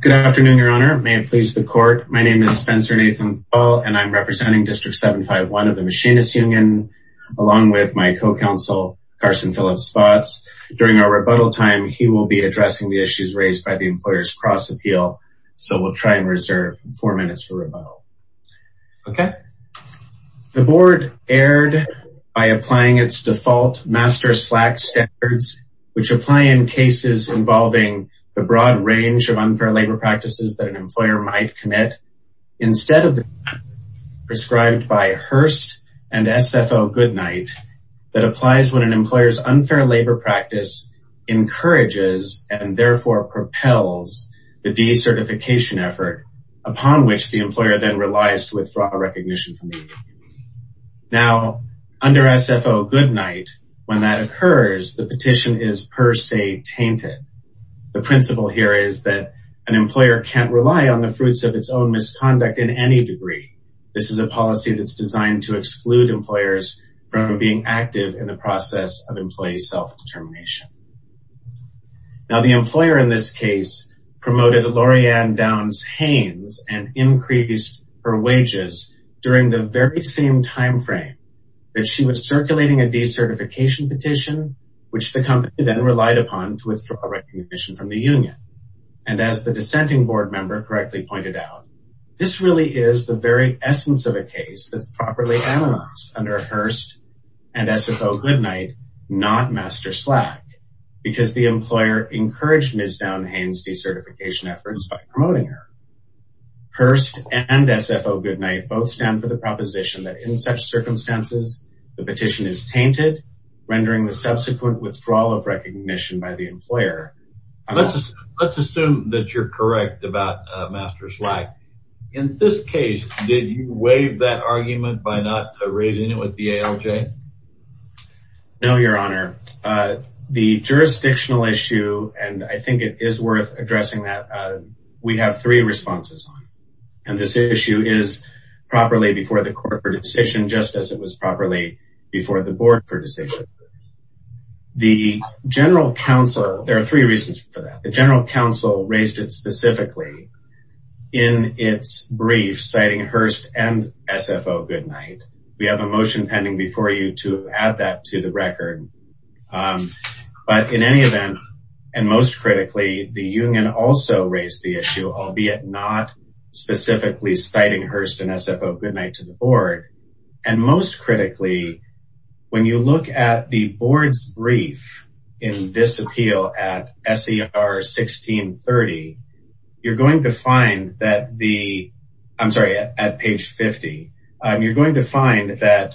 Good afternoon, Your Honor. May it please the court. My name is Spencer Nathan Thal, and I'm representing District 751 of the Machinist Union, along with my co-counsel, Carson Phillips-Spots. During our rebuttal time, he will be addressing the issues raised by the Employers Cross-Appeal, so we'll try and reserve four minutes for rebuttal. The Board erred by applying its default Master Slack standards, which apply in cases involving the broad range of unfair labor practices that an employer might commit, instead of the standard prescribed by Hearst and SFO Goodnight that applies when an employer's unfair labor practice encourages and therefore propels the decertification effort upon which the employer then relies to withdraw recognition from the union. Now, under SFO Goodnight, when that occurs, the petition is per se tainted. The principle here is that an employer can't rely on the fruits of its own misconduct in any degree. This is a policy that's designed to exclude employers from being active in the process of employee self-determination. Now, the employer in this case promoted Lorianne Downs Haynes and increased her wages during the very same time frame that she was circulating a decertification petition, which the company then relied upon to withdraw recognition from the union. And as the dissenting board member correctly pointed out, this really is the very essence of a case that's properly analyzed under Hearst and SFO Goodnight, not Master Slack, because the employer encouraged Ms. Downs Haynes' decertification efforts by promoting her. Hearst and SFO Goodnight both stand for the proposition that in such circumstances, the petition is tainted, rendering the subsequent withdrawal of recognition by the employer. Let's assume that you're correct about Master Slack. In this case, did you waive that argument by not raising it with the ALJ? No, Your Honor. The jurisdictional issue, and I think it is worth addressing that, we have three responses on it. And this issue is properly before the court for decision, just as it was properly before the board for decision. There are three reasons for that. The general counsel raised it specifically in its brief, citing Hearst and SFO Goodnight. We have a motion pending before you to add that to the record. But in any event, and most critically, the union also raised the issue, albeit not specifically citing Hearst and SFO Goodnight to the board. And most critically, when you look at the board's brief in this appeal at SER 1630, you're going to find that the, I'm sorry, at page 50, you're going to find that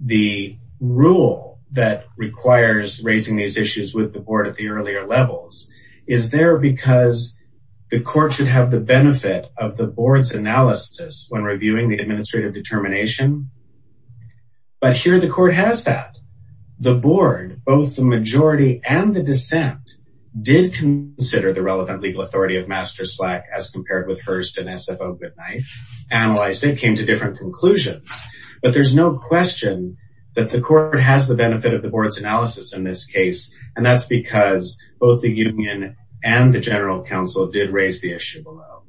the rule that requires raising these issues with the board at the earlier levels is there because the court should have the benefit of the board's analysis when reviewing the administrative determination. But here the court has that. The board, both the majority and the dissent, did consider the relevant legal authority of Master Slack as compared with Hearst and SFO Goodnight, analyzed it, came to different conclusions. But there's no question that the court has the benefit of the board's analysis in this case. And that's because both the board and the general counsel did raise the issue below.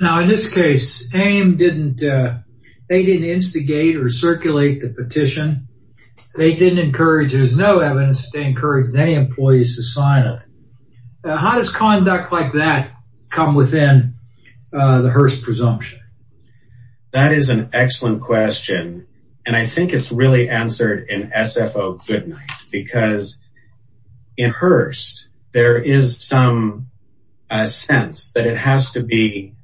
Now in this case, AIM didn't, they didn't instigate or circulate the petition. They didn't encourage, there's no evidence to encourage any employees to sign it. How does conduct like that come within the Hearst presumption? That is an excellent question. And I think it's really answered in SFO Goodnight. Because in Hearst, there is some sense that it has to be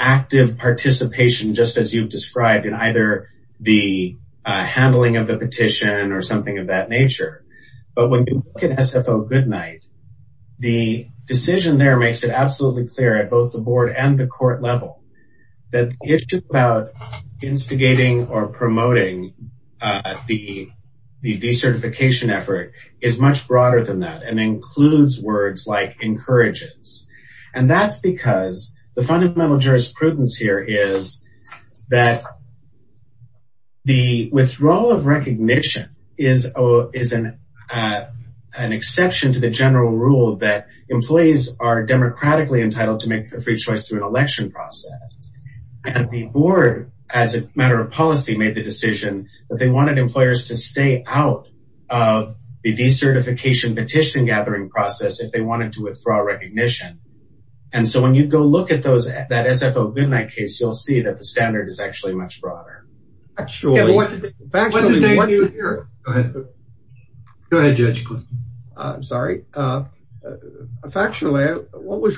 active participation, just as you've described in either the handling of the petition or something of that nature. But when you look at SFO Goodnight, the decision there makes it absolutely clear at both the board and the court level that the issue about instigating or promoting the decertification effort is much broader than that and includes words like encourages. And that's because the fundamental jurisprudence here is that the withdrawal of recognition is an exception to the general rule that employees are democratically entitled to make a free choice through an election process. And the board, as a matter of policy, made the decision that they wanted employers to stay out of the decertification petition gathering process if they wanted to withdraw recognition. And so when you go look at those, that SFO Goodnight case, you'll see that the standard is actually much broader. Actually, what was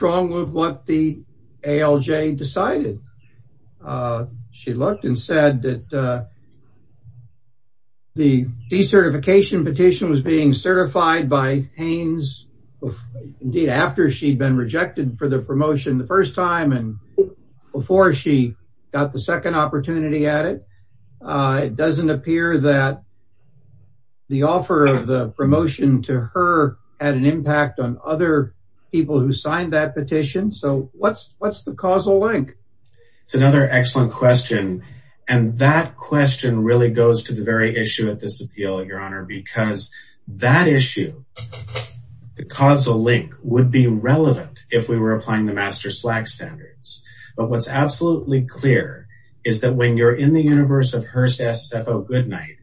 wrong with what the ALJ decided? She looked and said that the decertification petition was being certified by Hanes after she'd been rejected for the promotion the It doesn't appear that the offer of the promotion to her had an impact on other people who signed that petition. So what's what's the causal link? It's another excellent question. And that question really goes to the very issue at this appeal, Your Honor, because that issue, the causal link would be relevant if we were applying the master slack standards. But what's absolutely clear is that when you're in the universe of Hearst SFO Goodnight,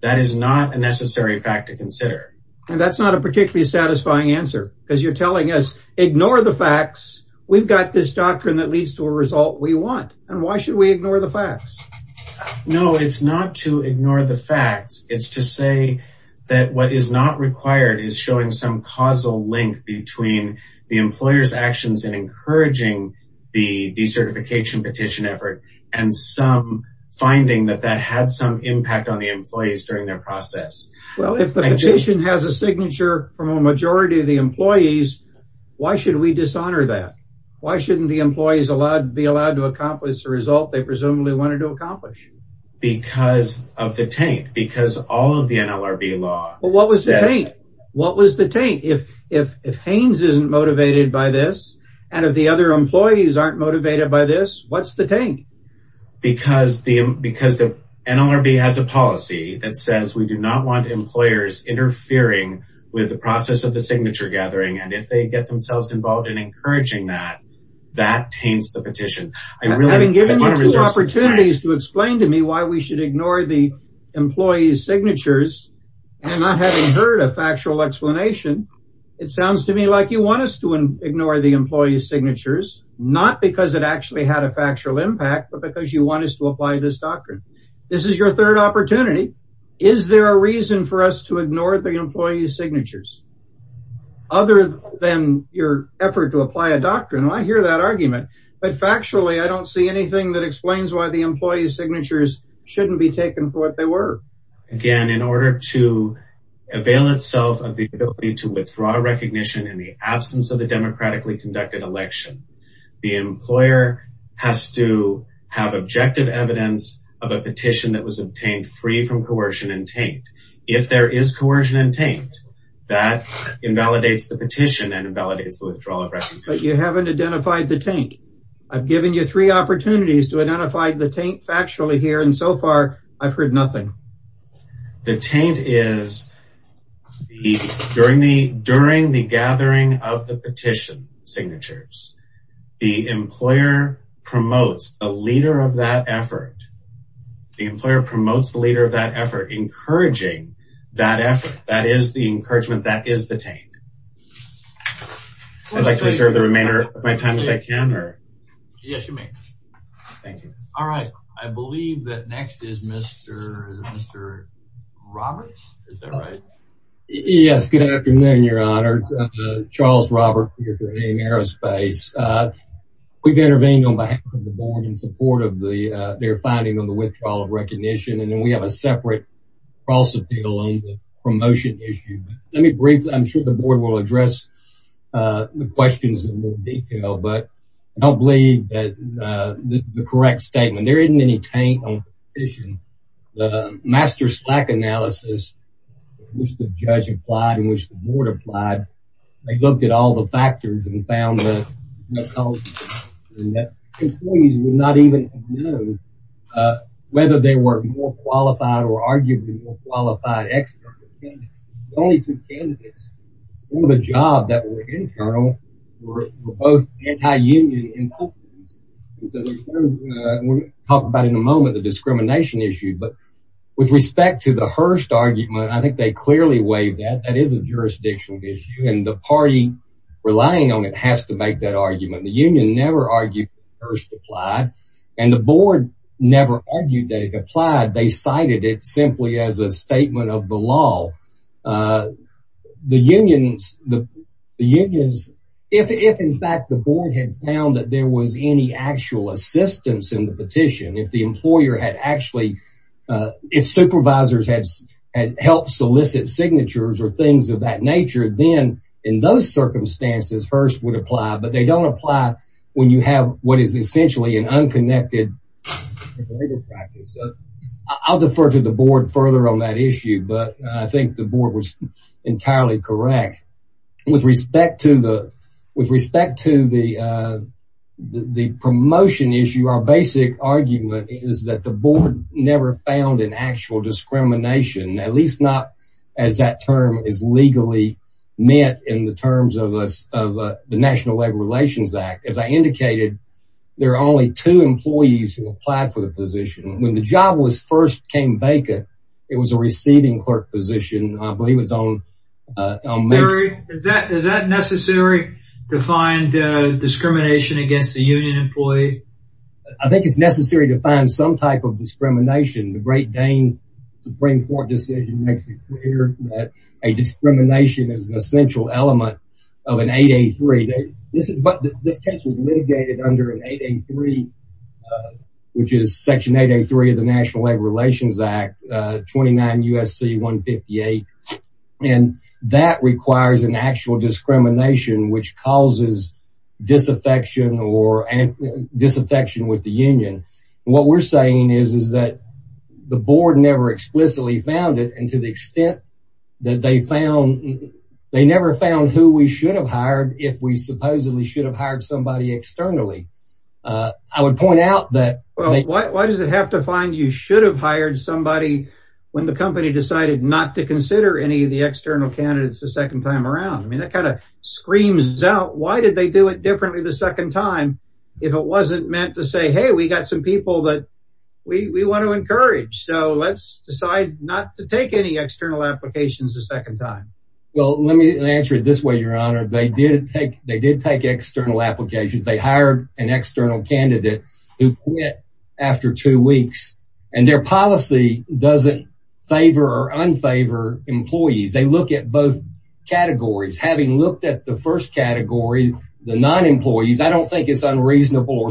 that is not a necessary fact to consider. And that's not a particularly satisfying answer because you're telling us, ignore the facts. We've got this doctrine that leads to a result we want. And why should we ignore the facts? No, it's not to ignore the facts. It's to say that what is not required is showing some causal link between the employer's that that had some impact on the employees during their process. Well, if the petition has a signature from a majority of the employees, why should we dishonor that? Why shouldn't the employees allowed to be allowed to accomplish the result they presumably wanted to accomplish? Because of the taint, because all of the NLRB law. But what was the taint? What was the taint? If if if Hanes isn't motivated by this, and if the other employees aren't motivated by this, what's the taint? Because the because the NLRB has a policy that says we do not want employers interfering with the process of the signature gathering. And if they get themselves involved in encouraging that, that taints the petition. I really haven't given you opportunities to explain to me why we should ignore the employees signatures. And I haven't heard a factual explanation. It sounds to me like you want us to ignore the employees signatures, not because it actually had a factual impact, but because you want us to apply this doctrine. This is your third opportunity. Is there a reason for us to ignore the employees signatures other than your effort to apply a doctrine? I hear that argument, but factually, I don't see anything that explains why the employees signatures shouldn't be taken for what they were. Again, in order to avail itself of the ability to withdraw recognition in the absence of the democratically conducted election, the employer has to have objective evidence of a petition that was obtained free from coercion and taint. If there is coercion and taint, that invalidates the petition and invalidates the withdrawal of recognition. You haven't identified the taint. I've given you three opportunities to identify the taint factually here. And so far, I've heard nothing. The taint is the during the during the gathering of the petition signatures, the employer promotes a leader of that effort. The employer promotes the leader of that effort, encouraging that effort. That is the encouragement. That is the taint. I'd like to reserve the remainder of my time if I can. Yes, you may. Thank you. All right. I believe that next is Mr. Roberts. Is that right? Yes. Good afternoon, Your Honor. Charles Roberts, Aerospace. We've intervened on behalf of the board in support of their finding on the withdrawal of recognition. And then we have a separate cross appeal on the promotion issue. Let me briefly, I'm sure the board will address the questions in more detail, but I don't believe that the correct statement. There isn't any taint on the petition. The master slack analysis, which the judge applied and which the board applied, they looked at all the factors and found that employees would not even know whether they were more qualified or arguably more qualified. The only two candidates for the job that were internal were both anti-union and Republicans. We're going to talk about in a moment the discrimination issue, but with respect to the Hearst argument, I think they clearly waived that. That is a jurisdictional issue and the party relying on it has to make that argument. The union never argued that Hearst applied and the board never argued that it applied. They cited it simply as a statement of the law. The unions, the unions, if in fact the board had found that there was any actual assistance in the petition, if the employer had actually, if supervisors had helped solicit signatures or things of that nature, then in those circumstances, Hearst would apply. But they don't apply when you have what is essentially an unconnected. I'll defer to the board further on that issue, but I think the board was entirely correct with respect to the with respect to the the promotion issue. Our basic argument is that the board never found an actual discrimination, at least not as that term is legally met in the terms of the National Labor Relations Act. As I indicated, there are only two employees who applied for the position when the job was first came vacant. It was a receiving clerk position. I believe it's on. Is that is that necessary to find discrimination against the union employee? I think it's necessary to find some type of discrimination. The Great Dane Supreme Court decision makes it clear that a discrimination is an essential element of an 883. But this case was litigated under an 883, which is Section 883 of the National Labor Relations Act, 29 U.S.C. 158. And that requires an actual discrimination which causes disaffection or disaffection with the union. What we're saying is, is that the board never explicitly found it. And to the extent that they found, they never found who we should have hired if we supposedly should have hired somebody externally. I would point out that. Well, why does it have to find you should have hired somebody when the company decided not to consider any of the external candidates the second time around? I mean, that kind of screams out. Why did they do it differently the second time if it wasn't meant to say, hey, we got some people that we want to encourage. So let's decide not to take any external applications the second time. Well, let me answer it this way, Your Honor. They did take they did take external applications. They hired an external candidate who quit after two weeks and their policy doesn't favor or unfavor employees. They look at both categories. Having looked at the first category, the non-employees, I don't think it's unreasonable or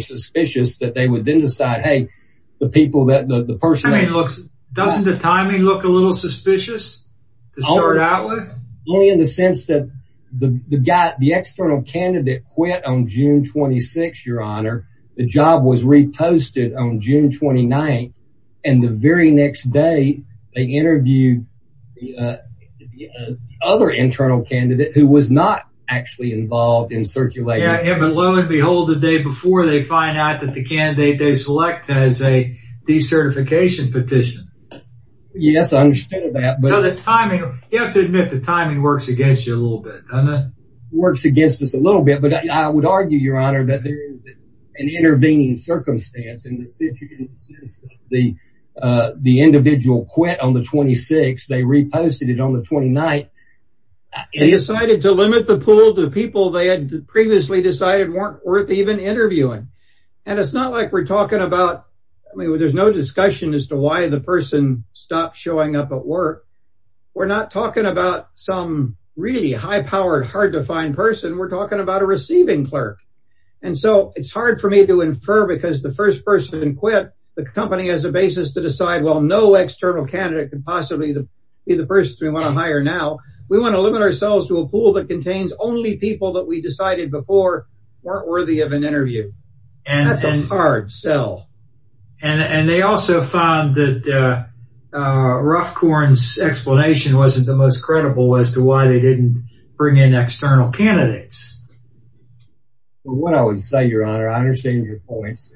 doesn't the timing look a little suspicious to start out with? Only in the sense that the guy, the external candidate, quit on June 26. Your Honor, the job was reposted on June 29. And the very next day, they interviewed the other internal candidate who was not actually involved in circulating. Yeah, but lo and behold, the day before they find out that the candidate they select has a recertification petition. Yes, I understand that. But the timing, you have to admit the timing works against you a little bit, doesn't it? Works against us a little bit. But I would argue, Your Honor, that there is an intervening circumstance in the individual quit on the 26th. They reposted it on the 29th. They decided to limit the pool to people they had previously decided weren't worth even interviewing. And it's not like we're talking about. I mean, there's no discussion as to why the person stopped showing up at work. We're not talking about some really high powered, hard to find person. We're talking about a receiving clerk. And so it's hard for me to infer because the first person quit the company as a basis to decide, well, no external candidate could possibly be the person we want to hire. Now, we want to limit ourselves to a pool that contains only people that we decided before weren't worthy of an interview. And that's a hard sell. And they also found that Ruffcorn's explanation wasn't the most credible as to why they didn't bring in external candidates. What I would say, Your Honor, I understand your points.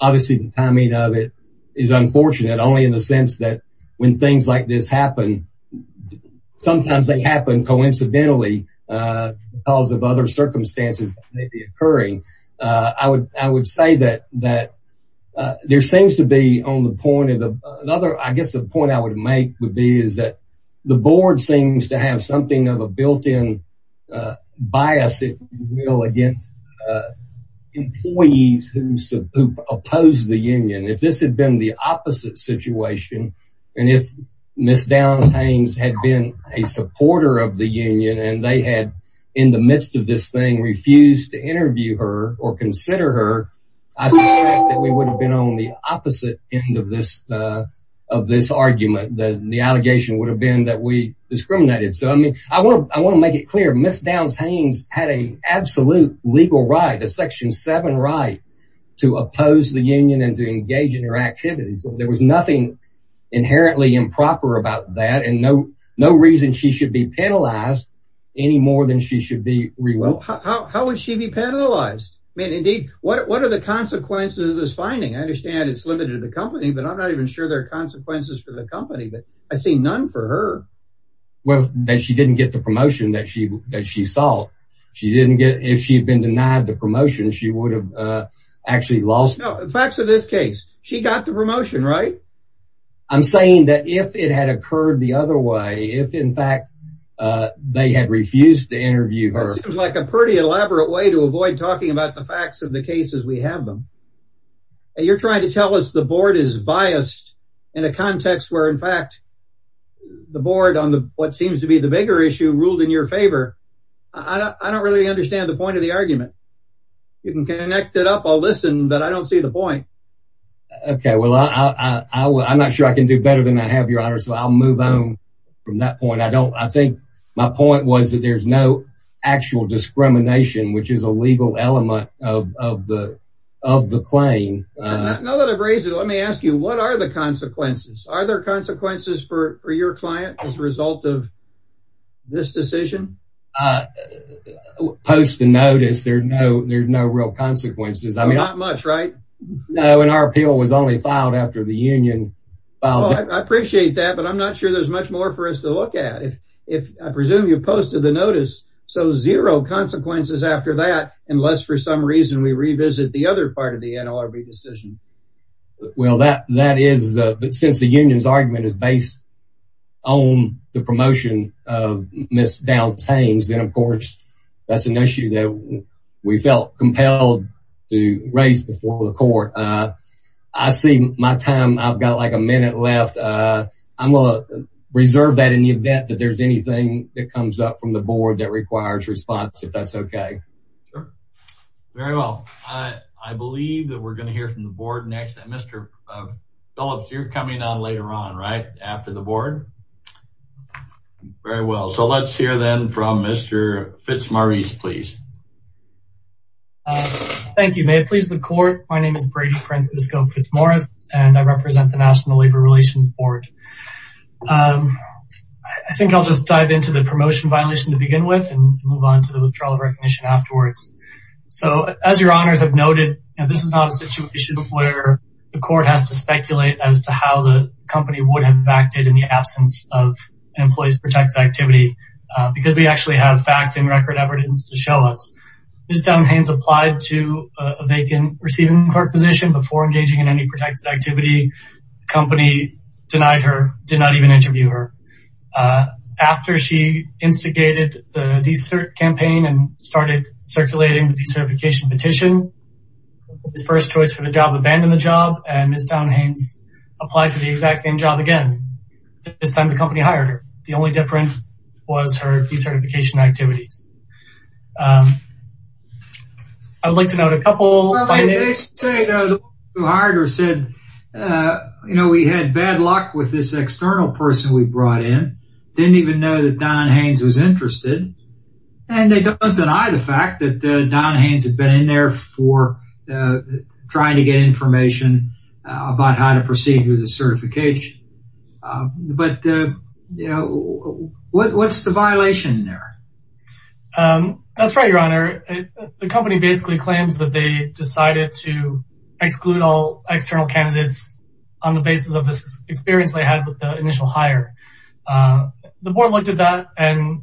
Obviously, the timing of it is unfortunate, only in the sense that when things like this happen, sometimes they happen coincidentally because of other circumstances that may be occurring. I would say that there seems to be on the point of the other, I guess the point I would make would be is that the board seems to have something of a built in bias against employees who oppose the union. If this had been the opposite situation and if Ms. Downs-Haines had been a supporter of the union and they had in the midst of this thing refused to interview her or consider her, I suspect that we would have been on the opposite end of this of this argument. The allegation would have been that we discriminated. So, I mean, I want to make it clear, Ms. Downs-Haines had an absolute legal right, a Section 7 right, to oppose the union and to engage in her activities. There was nothing inherently improper about that and no reason she should be penalized any more than she should be rewarded. How would she be penalized? I mean, indeed, what are the consequences of this finding? I understand it's limited to the company, but I'm not even sure there are consequences for the company, but I see none for her. Well, that she didn't get the promotion that she that she sought. She didn't get if she had been denied the promotion, she would have actually lost. Facts of this case, she got the promotion, right? I'm saying that if it had occurred the other way, if, in fact, they had refused to do it, that would have been a pretty elaborate way to avoid talking about the facts of the cases we have them. And you're trying to tell us the board is biased in a context where, in fact, the board on what seems to be the bigger issue ruled in your favor. I don't really understand the point of the argument. You can connect it up. I'll listen, but I don't see the point. OK, well, I'm not sure I can do better than I have, Your Honor, so I'll move on from that point. I don't I think my point was that there's no actual discrimination, which is a legal element of the of the claim. Now that I've raised it, let me ask you, what are the consequences? Are there consequences for your client as a result of this decision? Post the notice, there's no there's no real consequences. I mean, not much, right? No. And our appeal was only filed after the union. I appreciate that, but I'm not sure there's much more for us to look at if I presume you posted the notice. So zero consequences after that, unless for some reason we revisit the other part of the NLRB decision. Well, that that is that since the union's argument is based on the promotion of Ms. Dowd-Taines, then, of course, that's an issue that we felt compelled to raise before the court. I see my time. I've got like a minute left. I'm going to reserve that in the event that there's anything that comes up from the board that requires response, if that's OK. Very well. I believe that we're going to hear from the board next. Mr. Phillips, you're coming on later on, right after the board. Very well. So let's hear then from Mr. Fitzmaurice, please. Thank you. May it please the court. My name is Brady Prince-Usco Fitzmaurice and I represent the National Labor Relations Board. I think I'll just dive into the promotion violation to begin with and move on to the withdrawal of recognition afterwards. So as your honors have noted, this is not a situation where the court has to speculate as to how the company would have acted in the absence of an employee's protected activity because we actually have facts and record evidence to show us. Ms. Townhains applied to a vacant receiving clerk position before engaging in any protected activity. The company denied her, did not even interview her. After she instigated the decert campaign and started circulating the decertification petition, his first choice for the job, abandoned the job and Ms. Townhains applied for the exact same job again. This time the company hired her. The only difference was her decertification activities. I'd like to note a couple of things. They say the one who hired her said, you know, we had bad luck with this external person we brought in. Didn't even know that Townhains was interested. And they don't deny the fact that Townhains has been in there for trying to get information about how to proceed with the certification. But, you know, what's the violation there? That's right, Your Honor. The company basically claims that they decided to exclude all external candidates on the basis of this experience they had with the initial hire. The board looked at that and,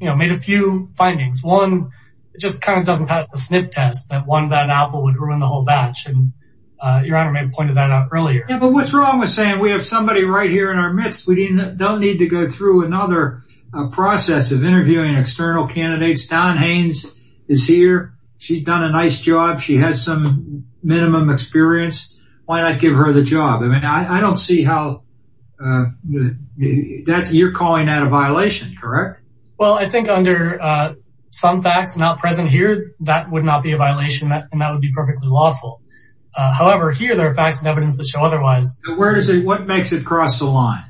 you know, made a few findings. One, it just kind of doesn't pass the sniff test that one bad apple would ruin the whole batch. And Your Honor may have pointed that out earlier. But what's wrong with saying we have somebody right here in our midst? We don't need to go through another process of interviewing external candidates. Townhains is here. She's done a nice job. She has some minimum experience. Why not give her the job? I mean, I don't see how that's you're calling that a violation, correct? Well, I think under some facts not present here, that would not be a violation and that would be perfectly lawful. However, here there are facts and evidence that show otherwise. Where is it? What makes it cross the line?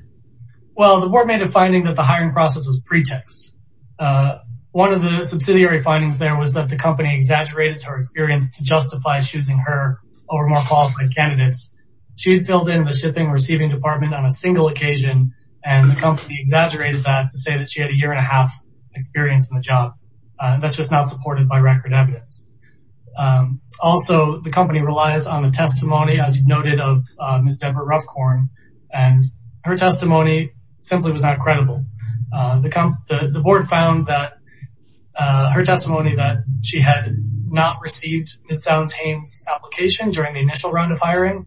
Well, the board made a finding that the hiring process was pretext. One of the subsidiary findings there was that the company exaggerated her experience to justify choosing her over more qualified candidates. She filled in the shipping receiving department on a single occasion and the company exaggerated that to say that she had a year and a half experience in the job. That's just not supported by record evidence. Also, the company relies on the testimony, as noted, of Ms. Townhains. Her testimony simply was not credible. The board found that her testimony that she had not received Ms. Townhains' application during the initial round of hiring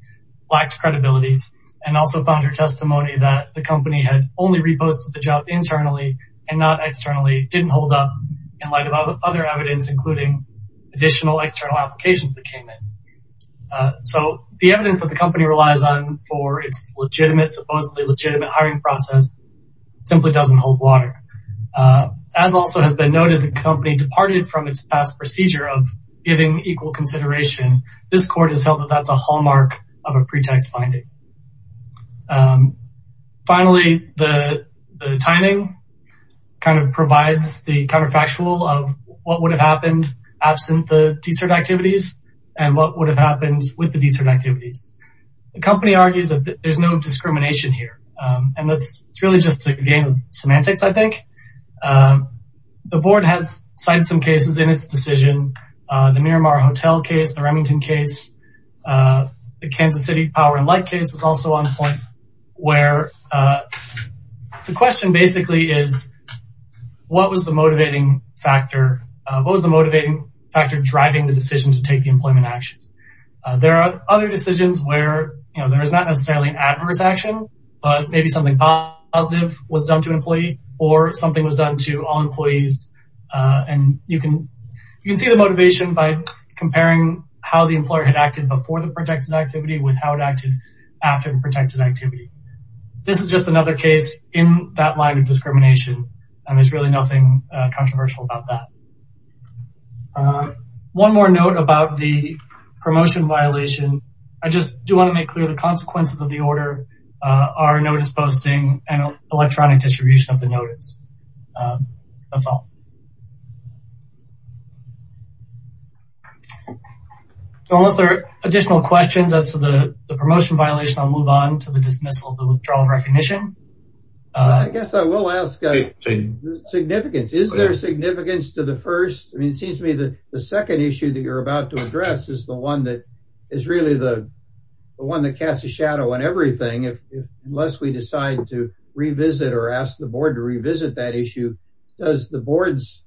lacked credibility and also found her testimony that the company had only reposted the job internally and not externally didn't hold up in light of other evidence, including additional external applications that came in. So the evidence that the company relies on for its legitimate, supposedly legitimate hiring process simply doesn't hold water. As also has been noted, the company departed from its past procedure of giving equal consideration. This court has held that that's a hallmark of a pretext finding. Finally, the timing kind of provides the counterfactual of what would have happened absent the de-cert activities and what would have happened with the de-cert activities. The company argues that there's no discrimination here, and that's really just a game of semantics, I think. The board has cited some cases in its decision, the Miramar Hotel case, the Remington case, the Kansas City Power and Light case is also on point, where the question basically is, what was the motivating factor? What was the motivating factor driving the decision to take the employment action? There are other decisions where there is not necessarily an adverse action, but maybe something positive was done to an employee or something was done to all employees. And you can you can see the motivation by comparing how the employer had acted before the protected activity with how it acted after the protected activity. This is just another case in that line of discrimination. And there's really nothing controversial about that. One more note about the promotion violation, I just do want to make clear the consequences of the order, our notice posting and electronic distribution of the notice. That's all. Unless there are additional questions as to the promotion violation, I'll move on to the dismissal of the withdrawal of recognition. I guess I will ask the significance. Is there significance to the first? I mean, it seems to me that the second issue that you're about to address is the one that is really the one that casts a shadow on everything. Unless we decide to revisit or ask the board to revisit that issue, does the board's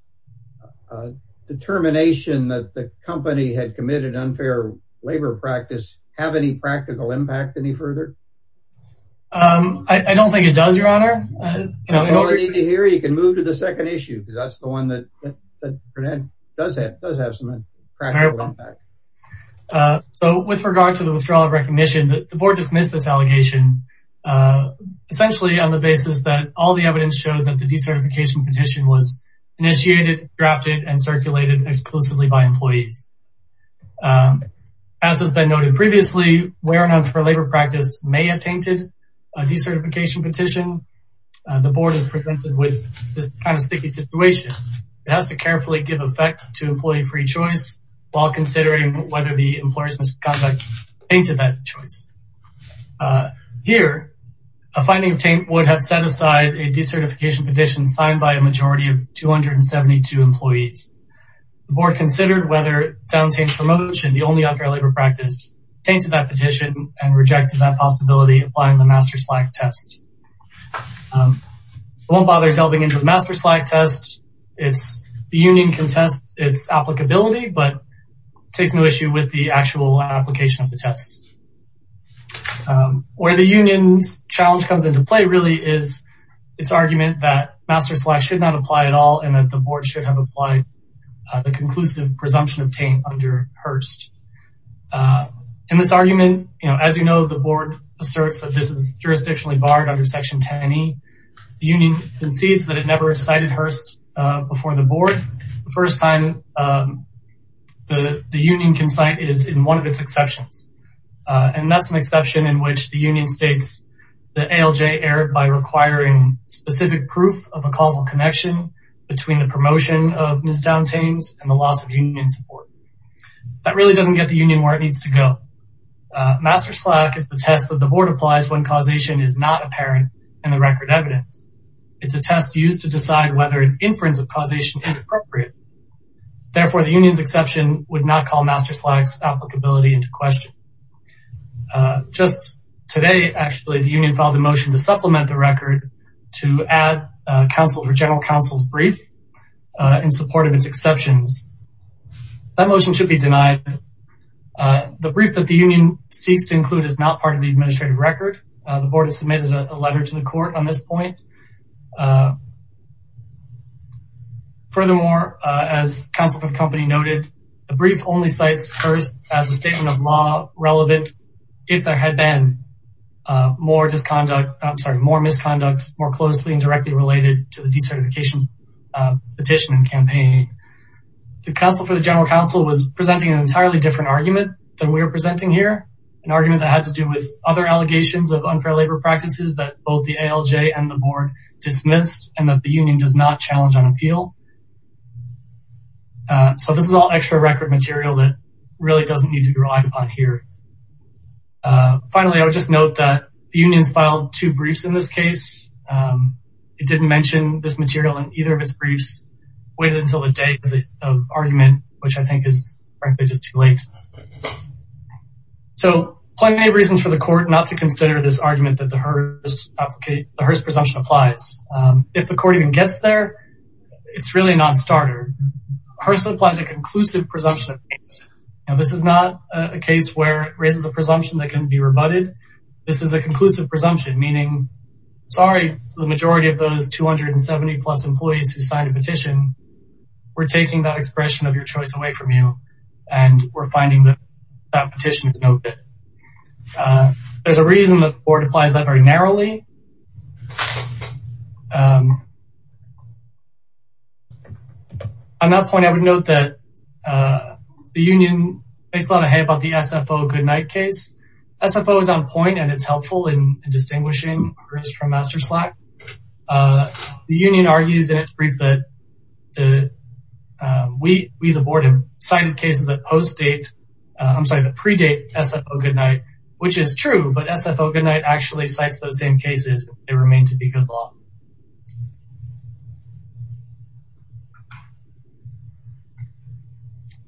determination that the company had committed unfair labor practice have any practical impact any further? I don't think it does, your honor. You know, here you can move to the second issue because that's the one that does have does have some practical impact. So with regard to the withdrawal of recognition, the board dismissed this allegation essentially on the basis that all the evidence showed that the decertification petition was initiated, drafted and circulated exclusively by employees. As has been noted previously, where enough for labor practice may have tainted a decertification petition, the board is presented with this kind of sticky situation. It has to carefully give effect to employee free choice while considering whether the employer's misconduct tainted that choice. Here, a finding of taint would have set aside a decertification petition signed by a majority of 272 employees. The board considered whether down-taint promotion, the only unfair labor practice, tainted that petition and rejected that possibility, applying the Master Slack test. I won't bother delving into the Master Slack test. The union can test its applicability, but it takes no issue with the actual application of the test. Where the union's challenge comes into play really is its argument that Master Slack should have applied the conclusive presumption of taint under Hearst. In this argument, you know, as you know, the board asserts that this is jurisdictionally barred under section 10E. The union concedes that it never cited Hearst before the board. The first time the union can cite is in one of its exceptions. And that's an exception in which the union states that ALJ erred by requiring specific proof of a causal connection between the promotion of Ms. Down's taints and the loss of union support. That really doesn't get the union where it needs to go. Master Slack is the test that the board applies when causation is not apparent in the record evidence. It's a test used to decide whether an inference of causation is appropriate. Therefore, the union's exception would not call Master Slack's applicability into question. Just today, actually, the union filed a motion to supplement the record to add counsel for general counsel's brief in support of its exceptions. That motion should be denied. The brief that the union seeks to include is not part of the administrative record. The board has submitted a letter to the court on this point. Furthermore, as counsel for the company noted, the brief only cites Hearst as a statement of law relevant if there had been more misconduct, more closely directly related to the decertification petition and campaign. The counsel for the general counsel was presenting an entirely different argument than we were presenting here, an argument that had to do with other allegations of unfair labor practices that both the ALJ and the board dismissed and that the union does not challenge on appeal. So this is all extra record material that really doesn't need to be relied upon here. Finally, I would just note that the union's filed two briefs in this case. It didn't mention this material in either of its briefs, waited until the date of argument, which I think is frankly just too late. So plenty of reasons for the court not to consider this argument that the Hearst presumption applies. If the court even gets there, it's really not startered. Hearst applies a conclusive presumption. This is not a case where it raises a presumption that can be rebutted. This is a conclusive presumption, meaning sorry to the majority of those 270 plus employees who signed a petition. We're taking that expression of your choice away from you and we're finding that that petition is no good. There's a reason the board applies that very narrowly. On that point, I would note that the union makes a lot of hay about the SFO goodnight case. SFO is on point and it's helpful in distinguishing Hearst from Master Slack. The union argues in its brief that we, the board, have cited cases that post-date, I'm sorry, that predate SFO goodnight, which is true, but SFO goodnight actually cites those same cases and they remain to be good law.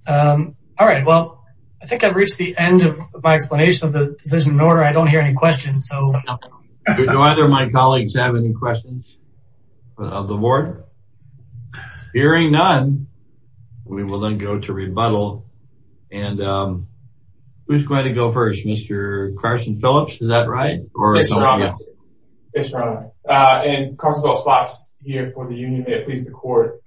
All right. Well, I think I've reached the end of my explanation of the decision in order. I don't hear any questions. Do either of my colleagues have any questions of the board? Hearing none, we will then go to rebuttal and who's going to go first? Mr. Carson Phillips, is that right? It's strong. And Carson Phillips Fox here for the union, may it please the court,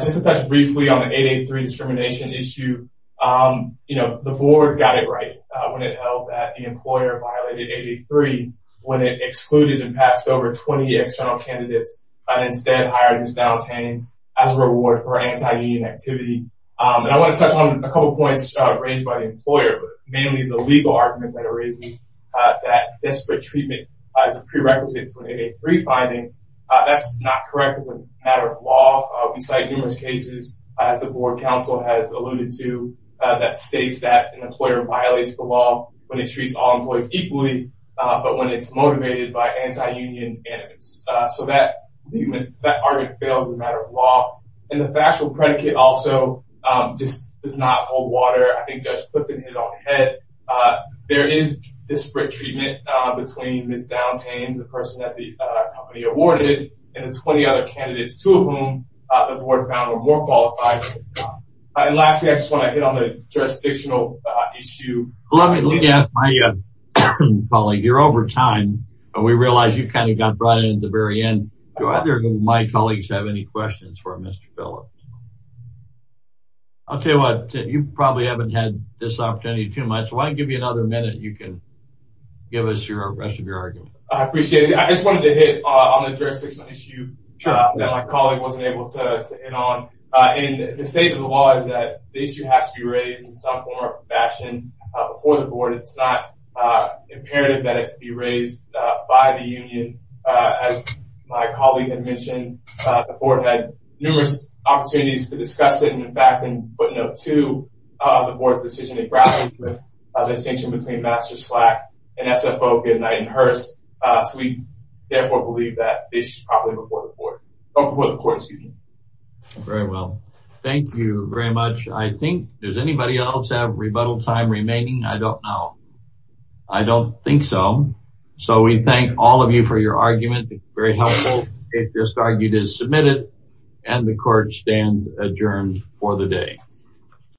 just to touch briefly on the 883 discrimination issue. You know, the board got it right when it held that the employer violated 883 when it excluded and passed over 20 external candidates and instead hired Ms. Downs Haynes as a reward for anti-union activity. And I want to touch on a couple of points raised by the employer, mainly the legal argument that arises that desperate treatment is a prerequisite to an 883 finding. That's not correct as a matter of law. We cite numerous cases, as the board counsel has alluded to, that states that an employer violates the law when it treats all employees equally, but when it's motivated by anti-union animus. So that argument fails as a matter of law. And the factual predicate also just does not hold water. I think Judge Clifton hit it on the head. There is disparate treatment between Ms. Downs Haynes, the person that the company awarded, and the 20 other candidates, two of whom the board found were more qualified. And lastly, I just want to hit on the jurisdictional issue. Let me ask my colleague, you're over time and we realize you kind of got brought in at the very end. Do either of my colleagues have any questions for Mr. Phillips? I'll tell you what, you probably haven't had this opportunity too much. Why don't I give you another minute? You can give us the rest of your argument. I appreciate it. I just wanted to hit on the jurisdictional issue that my colleague wasn't able to in on. And the state of the law is that the issue has to be raised in some form or fashion before the board. It's not imperative that it be raised by the union. As my colleague had mentioned, the board had numerous opportunities to discuss it. And in fact, in footnote two, the board's decision to grapple with the distinction between Master Slack and SFO Goodnight and Hearst. So we therefore believe that the issue is probably before the board, or before the court. Very well. Thank you very much. I think, does anybody else have rebuttal time remaining? I don't know. I don't think so. So we thank all of you for your argument. Very helpful. It just argued is submitted and the court stands adjourned for the day.